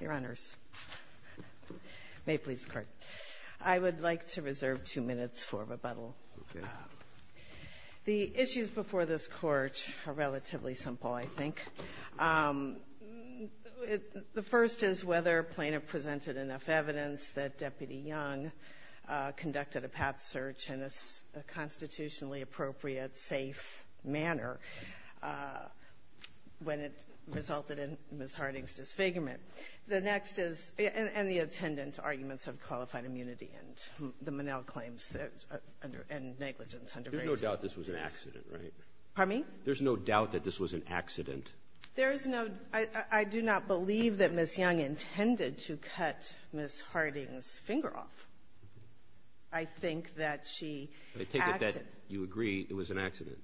Your Honors. May it please the Court. I would like to reserve two minutes for rebuttal. The issues before this Court are relatively simple, I think. The first is whether Plaintiff presented enough evidence that Deputy Young conducted a path search in a constitutionally appropriate, safe manner when it resulted in Ms. Harding's disfigurement. The next is any attendant arguments of qualified immunity and the Monell claims and negligence under various laws. Roberts. There's no doubt this was an accident, right? Harding. There's no doubt that this was an accident. Harding. There's no — I do not believe that Ms. Young intended to cut Ms. Harding's finger off. I think that she acted — I take it that you agree it was an accident.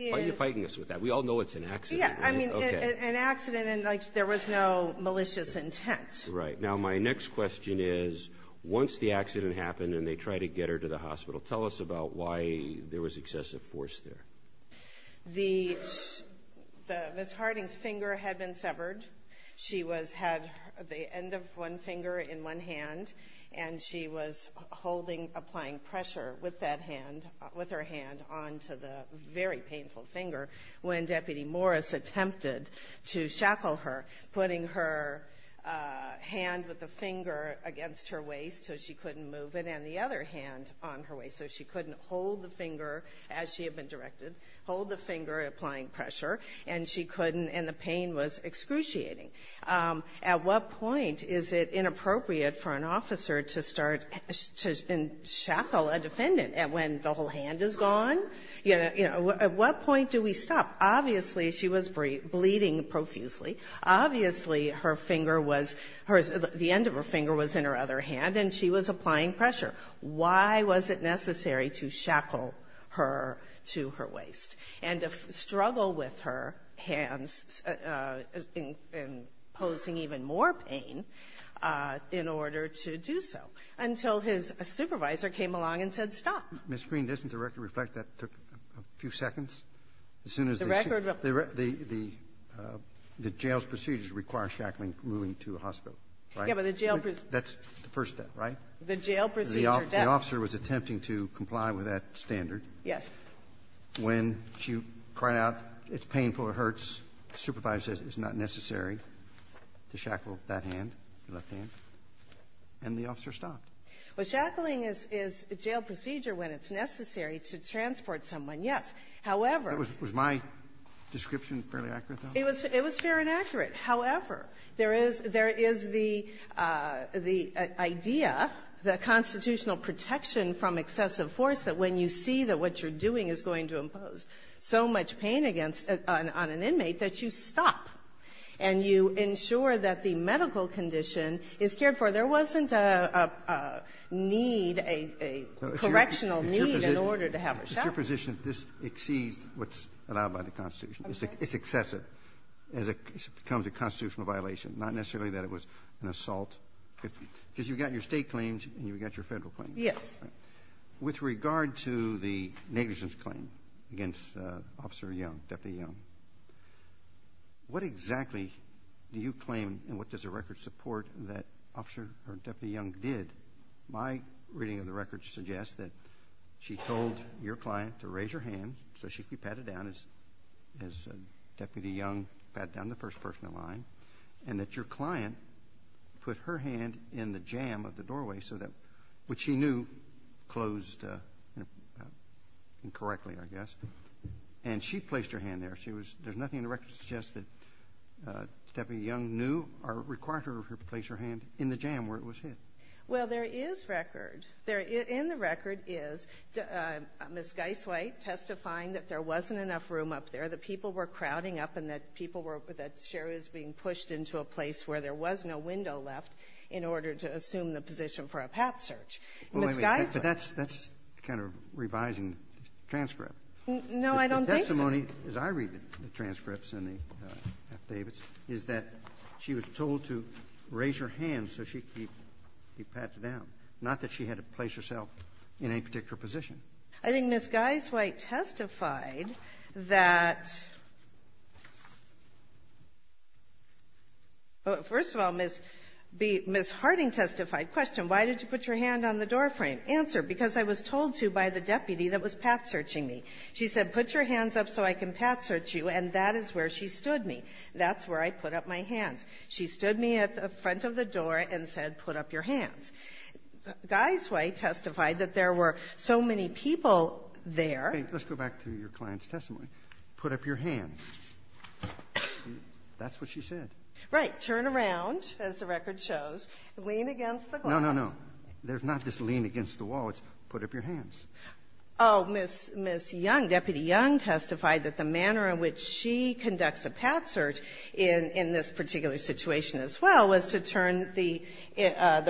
Why are you fighting us with that? We all know it's an accident. Yeah, I mean, an accident in which there was no malicious intent. Right. Now, my next question is, once the accident happened and they tried to get her to the hospital, tell us about why there was excessive force there. The — the — Ms. Harding's finger had been severed. She was — had the end of one finger in one hand, and she was holding — applying pressure with that hand — with her hand onto the very painful finger when Deputy Morris attempted to shackle her, putting her hand with the finger against her waist so she couldn't move it, and the other hand on her waist so she couldn't hold the finger as she had been directed, hold the finger, applying pressure, and she couldn't, and the pain was excruciating. At what point is it inappropriate for an officer to start — to shackle a defendant when the whole hand is gone? You know, at what point do we stop? Obviously, she was bleeding profusely. Obviously, her finger was — the end of her finger was in her other hand, and she was applying pressure. Why was it necessary to shackle her to her waist and to struggle with her hands in — in posing even more pain in order to do so? Until his supervisor came along and said, stop. Ms. Green, doesn't the record reflect that took a few seconds? As soon as they — The record — The — the — the jail's procedures require shackling moving to a hospital, right? Yeah, but the jail — That's the first step, right? The jail procedures — The officer was attempting to comply with that standard. Yes. When she cried out, it's painful, it hurts, the supervisor says it's not necessary to shackle that hand, the left hand, and the officer stopped. Well, shackling is — is a jail procedure when it's necessary to transport someone. Yes. However — Was my description fairly accurate, though? It was — it was fair and accurate. However, there is — there is the — the idea, the constitutional protection from excessive force, that when you see that what you're doing is going to impose so much pain against — on an inmate, that you stop and you ensure that the medical condition is cared for. There wasn't a — a need, a — a correctional need in order to have her shackled. It's your position that this exceeds what's allowed by the Constitution. Okay. It's excessive as it becomes a constitutional violation, not necessarily that it was an assault, because you've got your State claims and you've got your Federal claims. Yes. With regard to the negligence claim against Officer Young, Deputy Young, what exactly do you claim and what does the record support that Officer — or Deputy Young did? My reading of the records suggests that she told your client to raise her hand so that she could be patted down as — as Deputy Young pat down the first-person in line, and that your client put her hand in the jam of the doorway so that — which she knew closed incorrectly, I guess. And she placed her hand there. She was — there's nothing in the record that suggests that Deputy Young knew or required her to place her hand in the jam where it was hit. Well, there is record. There — in the record is Ms. Geisweit testifying that there wasn't enough room up there, that people were crowding up, and that people were — that Sherry was being pushed into a place where there was no window left in order to assume the position for a pat search. Ms. Geisweit — But that's — that's kind of revising the transcript. No, I don't think so. The testimony, as I read the transcripts and the affidavits, is that she was told to raise her hand so she could be patted down. Not that she had to place herself in any particular position. I think Ms. Geisweit testified that — first of all, Ms. Harding testified. Question, why did you put your hand on the doorframe? Answer, because I was told to by the deputy that was pat-searching me. She said, put your hands up so I can pat-search you, and that is where she stood me. That's where I put up my hands. She stood me at the front of the door and said, put up your hands. Geisweit testified that there were so many people there. Let's go back to your client's testimony. Put up your hands. That's what she said. Right. Turn around, as the record shows. Lean against the glass. No, no, no. There's not just lean against the wall. It's put up your hands. Oh, Ms. Young, Deputy Young, testified that the manner in which she conducts her pat-search in this particular situation, as well, was to turn the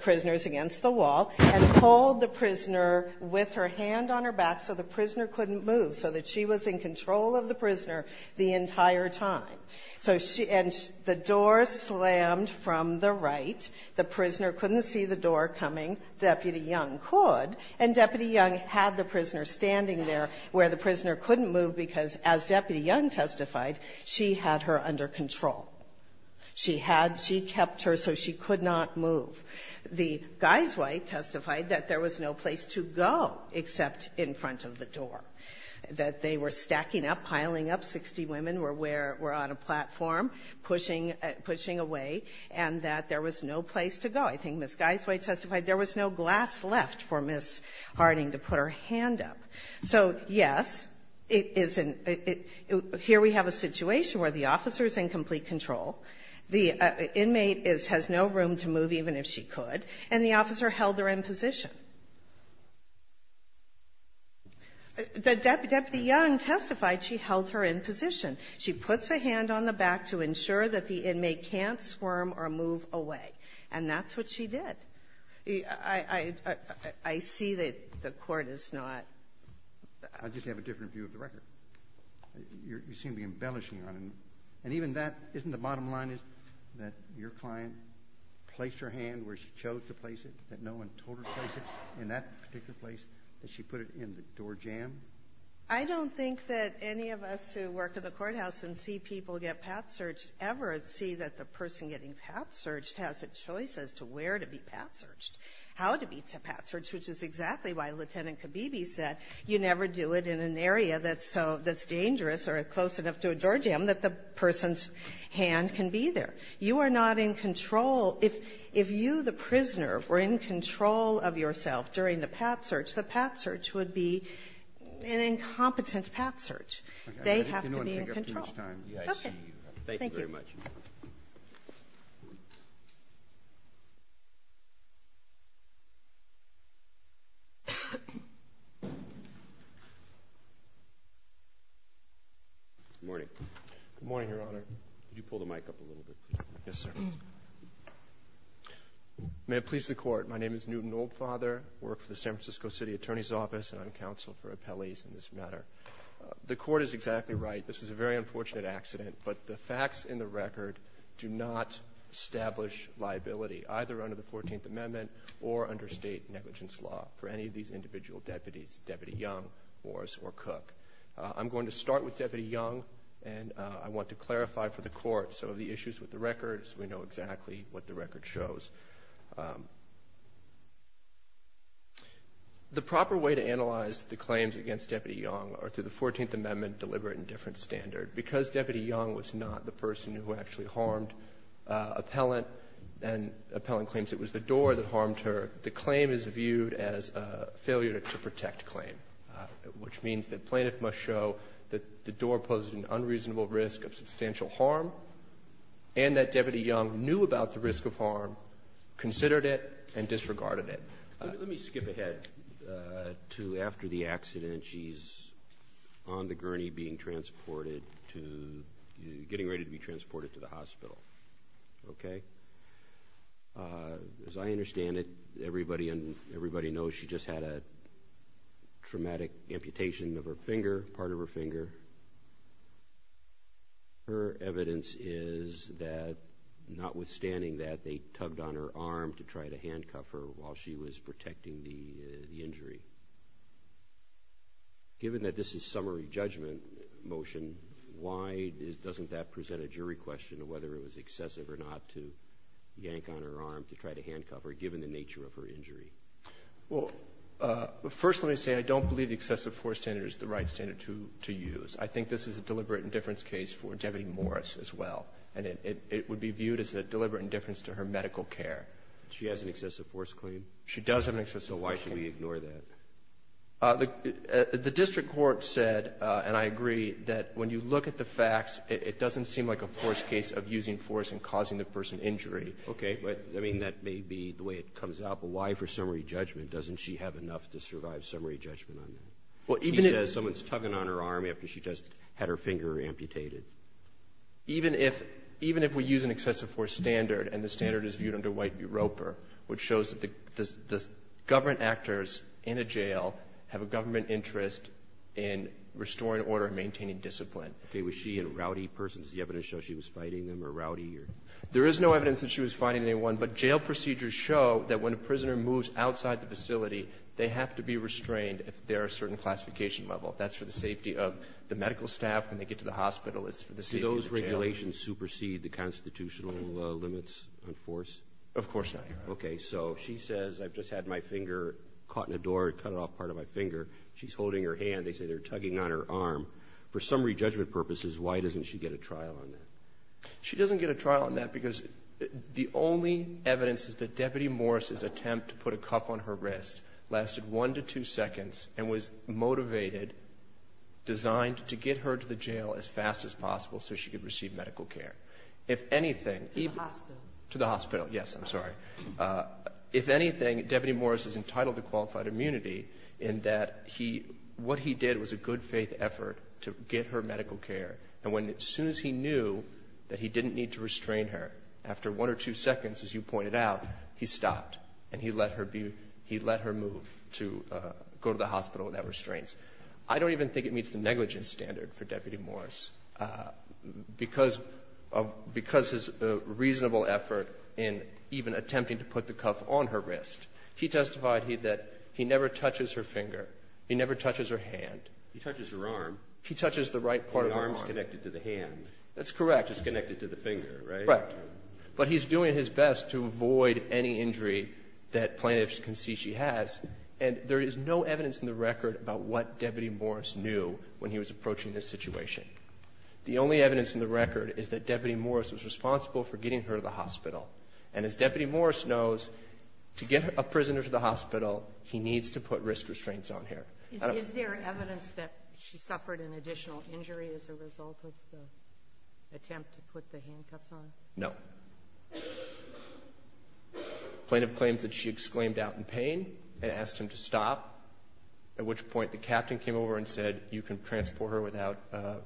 prisoners against the wall and hold the prisoner with her hand on her back so the prisoner couldn't move, so that she was in control of the prisoner the entire time. So she — and the door slammed from the right. The prisoner couldn't see the door coming. Deputy Young could. And Deputy Young had the prisoner standing there where the prisoner couldn't move because, as Deputy Young testified, she had her under control. She had — she kept her so she could not move. The Geisweit testified that there was no place to go except in front of the door, that they were stacking up, piling up. Sixty women were where — were on a platform, pushing — pushing away, and that there was no place to go. I think Ms. Geisweit testified there was no glass left for Ms. Harding to put her hand up. So, yes, it is an — here we have a situation where the officer is in complete control, the inmate is — has no room to move even if she could, and the officer held her in position. The Deputy Young testified she held her in position. She puts a hand on the back to ensure that the inmate can't squirm or move away. And that's what she did. I see that the Court is not — I just have a different view of the record. You seem to be embellishing on it. And even that, isn't the bottom line is that your client placed her hand where she chose to place it, that no one told her to place it in that particular place, that she put it in the door jam? I don't think that any of us who work at the courthouse and see people get path-searched ever see that the person getting path-searched has a choice as to where to be path-searched, how to be path-searched, which is exactly why Lieutenant Khabibi said you never do it in an area that's so — that's dangerous or close enough to a door jam that the person's hand can be there. You are not in control. If — if you, the prisoner, were in control of yourself during the path-search, the path-search would be an incompetent path-search. They have to be in control. Okay. Thank you very much. Thank you. Good morning. Good morning, Your Honor. Could you pull the mic up a little bit, please? Yes, sir. May it please the Court, my name is Newton Oldfather. I work for the San Francisco City Attorney's Office and I'm counsel for appellees in this matter. The Court is exactly right. This is a very unfortunate accident, but the facts in the record do not establish liability, either under the 14th Amendment or under state negligence law for any of these individual deputies, Deputy Young, Morris, or Cook. I'm going to start with Deputy Young and I want to clarify for the Court some of the issues with the records. We know exactly what the record shows. The proper way to analyze the claims against Deputy Young are through the 14th Amendment Deliberate Indifference Standard. Because Deputy Young was not the person who actually harmed Appellant and Appellant claims it was the door that harmed her, the claim is viewed as a failure to protect claim, which means that plaintiff must show that the door posed an unreasonable risk of substantial harm and that Deputy Young knew about the risk of harm, considered it, and disregarded it. Let me skip ahead to after the accident. She's on the gurney being transported to, getting ready to be transported to the hospital. Okay? As I understand it, everybody knows she just had a traumatic amputation of her finger, part of her finger. Her evidence is that, notwithstanding that, they tugged on her arm to try to handcuff her while she was protecting the injury. Given that this is summary judgment motion, why doesn't that present a jury question of whether it was excessive or not to yank on her arm to try to handcuff her, given the nature of her injury? Well, first let me say I don't believe the excessive force standard is the right standard to use. I think this is a deliberate indifference case for Deputy Morris as well, and it would be viewed as a deliberate indifference to her medical care. She has an excessive force claim? She does have an excessive force claim. So why should we ignore that? The district court said, and I agree, that when you look at the facts, it doesn't seem like a force case of using force and causing the person injury. Okay. But, I mean, that may be the way it comes out. But why, for summary judgment, doesn't she have enough to survive summary judgment on that? She says someone's tugging on her arm after she just had her finger amputated. Even if we use an excessive force standard, and the standard is viewed under White Roper, which shows that the government actors in a jail have a government interest in restoring order and maintaining discipline. Okay. Was she a rowdy person? Does the evidence show she was fighting them or rowdy? There is no evidence that she was fighting anyone, but jail procedures show that when a prisoner moves outside the facility, they have to be restrained if they're a certain classification level. That's for the safety of the medical staff. When they get to the hospital, it's for the safety of the jail. Do those regulations supersede the constitutional limits on force? Of course not, Your Honor. Okay. So she says, I've just had my finger caught in a door, cut off part of my finger. She's holding her hand. They say they're tugging on her arm. For summary judgment purposes, why doesn't she get a trial on that? She doesn't get a trial on that because the only evidence is that Deputy Morris' attempt to put a cuff on her wrist lasted one to two seconds and was motivated and designed to get her to the jail as fast as possible so she could receive medical care. If anything, even to the hospital. Yes, I'm sorry. If anything, Deputy Morris is entitled to qualified immunity in that he what he did was a good-faith effort to get her medical care. And when, as soon as he knew that he didn't need to restrain her, after one or two seconds, as you pointed out, he stopped and he let her be, he let her move to go to the hospital without restraints. I don't even think it meets the negligence standard for Deputy Morris because of his reasonable effort in even attempting to put the cuff on her wrist. He testified that he never touches her finger. He never touches her hand. He touches her arm. He touches the right part of her arm. Her arm's connected to the hand. That's correct. It's connected to the finger, right? Right. But he's doing his best to avoid any injury that plaintiffs can see she has. And there is no evidence in the record about what Deputy Morris knew when he was approaching this situation. The only evidence in the record is that Deputy Morris was responsible for getting her to the hospital. And as Deputy Morris knows, to get a prisoner to the hospital, he needs to put risk restraints on her. Is there evidence that she suffered an additional injury as a result of the attempt to put the handcuffs on? No. Plaintiff claims that she exclaimed out in pain and asked him to stop, at which point the captain came over and said, you can transport her without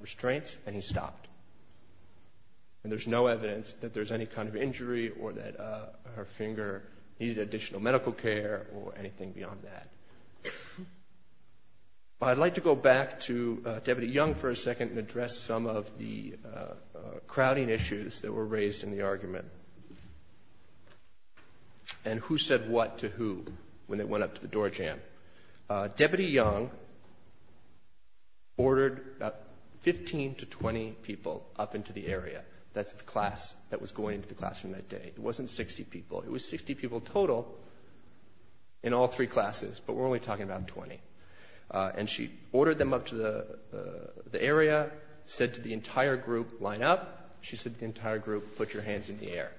restraints, and he stopped. And there's no evidence that there's any kind of injury or that her finger needed additional medical care or anything beyond that. I'd like to go back to Deputy Young for a second and address some of the crowding issues that were raised in the argument and who said what to who when they went up to the doorjamb. Deputy Young ordered about 15 to 20 people up into the area. That's the class that was going into the classroom that day. It wasn't 60 people. It was 60 people total in all three classes, but we're only talking about 20. And she ordered them up to the area, said to the entire group, line up. She said to the entire group, put your hands in the air.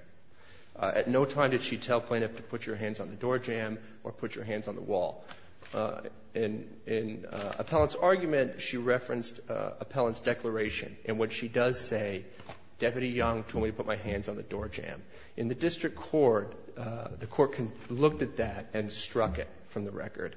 At no time did she tell plaintiff to put your hands on the doorjamb or put your hands on the wall. In Appellant's argument, she referenced Appellant's declaration in which she does say, Deputy Young told me to put my hands on the doorjamb. In the district court, the court looked at that and struck it from the record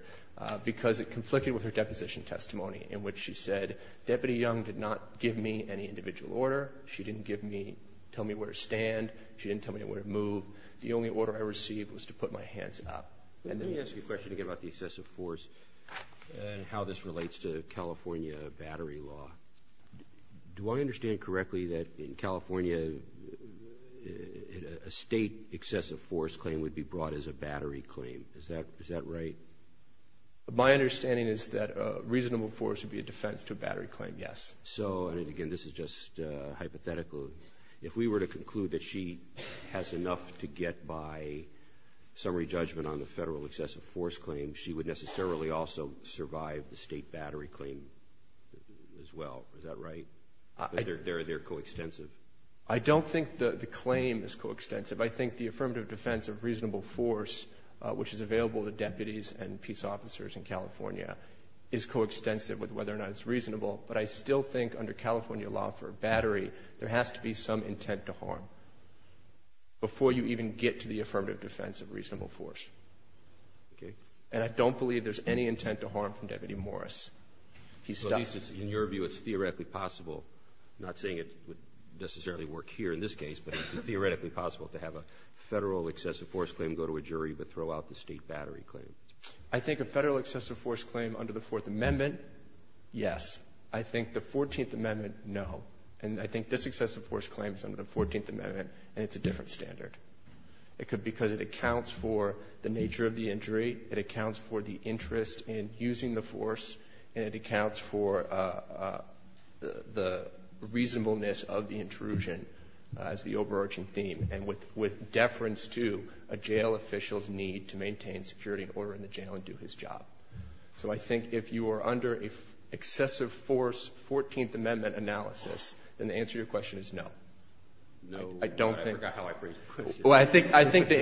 because it conflicted with her deposition testimony in which she said, Deputy Young did not give me any individual order. She didn't give me, tell me where to stand. She didn't tell me where to move. The only order I received was to put my hands up. And then you ask a question again about the excessive force and how this relates to California battery law. Do I understand correctly that in California, a state excessive force claim would be brought as a battery claim? Is that right? My understanding is that a reasonable force would be a defense to a battery claim, yes. Robertson So, and again, this is just hypothetical. If we were to conclude that she has enough to get by summary judgment on the Federal excessive force claim, she would necessarily also survive the state battery claim as well. Is that right? They're coextensive. Gannon I don't think the claim is coextensive. I think the affirmative defense of reasonable force, which is available to deputies and peace officers in California, is coextensive with whether or not it's reasonable. But I still think under California law for a battery, there has to be some intent to harm before you even get to the affirmative defense of reasonable force. Robertson Okay. Gannon And I don't believe there's any intent to harm from Deputy Morris. He's stopped. Robertson So at least in your view it's theoretically possible, not saying it would necessarily work here in this case, but it's theoretically possible to have a Federal excessive force claim go to a jury but throw out the state battery claim. Gannon I think a Federal excessive force claim under the Fourth Amendment, yes. I think the Fourteenth Amendment, no. And I think this excessive force claim is under the Fourteenth Amendment, and it's a different standard. It could be because it accounts for the nature of the injury. It accounts for the interest in using the force. And it accounts for the reasonableness of the intrusion as the overarching theme, and with deference to a jail official's need to maintain security and order in the jail and do his job. So I think if you are under an excessive force Fourteenth Amendment analysis, then the answer to your question is no. I don't think the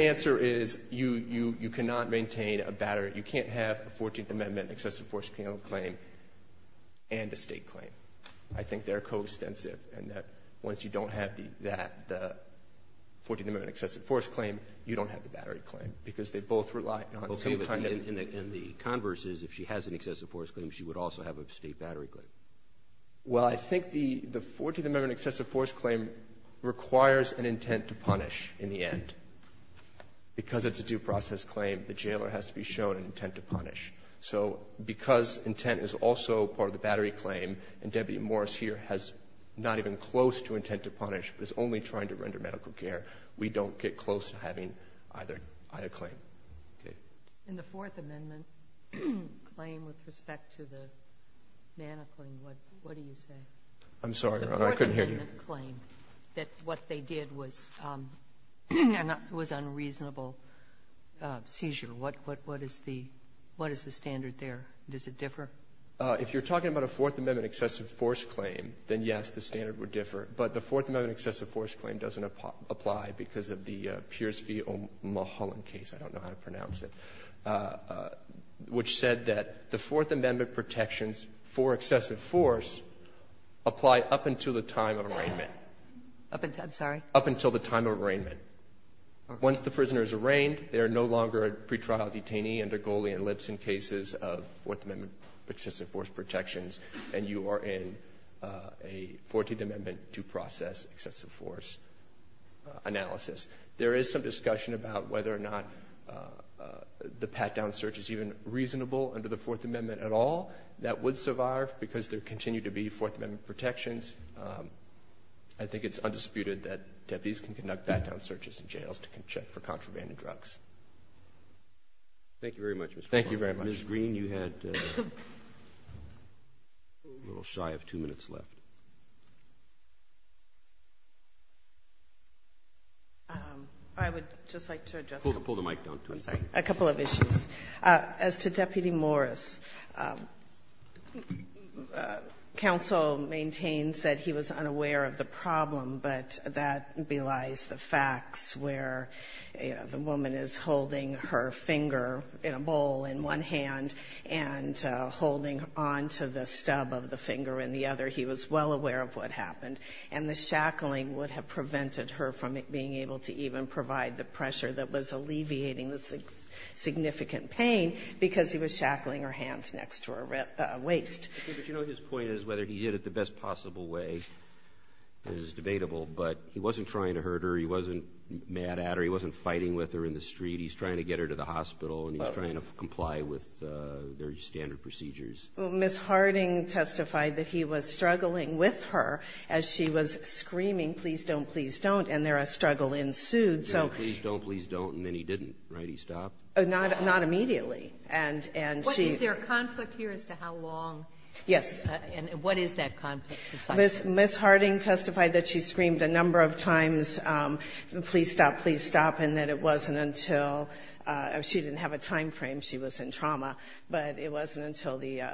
answer is you cannot maintain a battery. You can't have a Fourteenth Amendment excessive force claim and a state claim. I think they're coextensive in that once you don't have that Fourteenth Amendment excessive force claim, you don't have the battery claim because they both rely on some kind of the converse is if she has an excessive force claim, she would also have a state battery claim. Well, I think the Fourteenth Amendment excessive force claim requires an intent to punish in the end. Because it's a due process claim, the jailer has to be shown an intent to punish. So because intent is also part of the battery claim, and Deputy Morris here has not even close to intent to punish, but is only trying to render medical care, we don't get close to having either claim. Okay. And the Fourth Amendment claim with respect to the manacling, what do you say? I'm sorry, Your Honor. I couldn't hear you. The Fourth Amendment claim that what they did was unreasonable seizure. What is the standard there? Does it differ? If you're talking about a Fourth Amendment excessive force claim, then yes, the standard would differ. But the Fourth Amendment excessive force claim doesn't apply because of the Pierce v. O'Mahollan case. I don't know how to pronounce it. Which said that the Fourth Amendment protections for excessive force apply up until the time of arraignment. Up until the time of arraignment. Once the prisoner is arraigned, they are no longer a pretrial detainee under Goley and Lipson cases of Fourth Amendment excessive force protections, and you are in a Fourteenth Amendment due process excessive force analysis. There is some discussion about whether or not the pat-down search is even reasonable under the Fourth Amendment at all. That would survive because there continue to be Fourth Amendment protections. I think it's undisputed that deputies can conduct pat-down searches in jails to check for contraband and drugs. Thank you very much, Mr. McLaughlin. Thank you very much. Ms. Green, you had a little shy of two minutes left. I would just like to address a couple of issues. As to Deputy Morris, counsel maintains that he was unaware of the problem, but that belies the facts where the woman is holding her finger in a bowl in one hand and holding on to the stub of the finger in the other. He was well aware of what happened. And the shackling would have prevented her from being able to even provide the pressure that was alleviating the significant pain because he was shackling her hands next to her waist. Okay. But you know his point is whether he did it the best possible way is debatable. But he wasn't trying to hurt her. He wasn't mad at her. He wasn't fighting with her in the street. He's trying to get her to the hospital and he's trying to comply with their standard procedures. Ms. Harding testified that he was struggling with her as she was screaming, please don't, please don't, and there a struggle ensued, so he Please don't, please don't. And then he didn't, right? He stopped. Oh, not immediately. And she Is there a conflict here as to how long? Yes. And what is that conflict? Ms. Harding testified that she screamed a number of times, please stop, please stop, and that it wasn't until she didn't have a time frame, she was in trauma, but it wasn't until the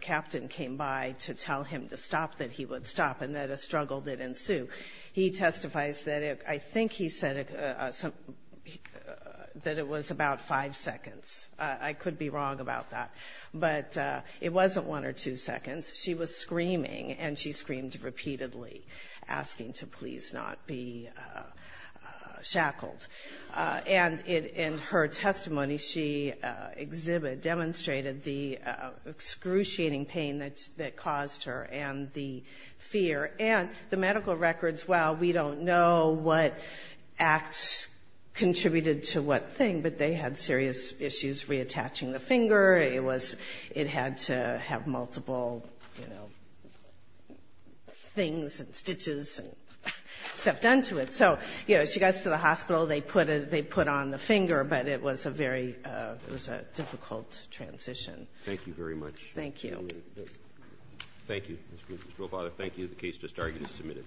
captain came by to tell him to stop that he would stop and that a struggle did ensue. He testifies that I think he said that it was about five seconds. I could be wrong about that. But it wasn't one or two seconds. She was screaming, and she screamed repeatedly, asking to please not be shackled. And in her testimony, she exhibited, demonstrated the excruciating pain that caused her and the fear. And the medical records, well, we don't know what acts contributed to what thing, but they had serious issues reattaching the finger. It was, it had to have multiple, you know, things and stitches and stuff done to it. So, you know, she goes to the hospital, they put it, they put on the finger, but it was a very, it was a difficult transition. Thank you very much. Thank you. Thank you. Mr. Robata, thank you. The case just argued is submitted.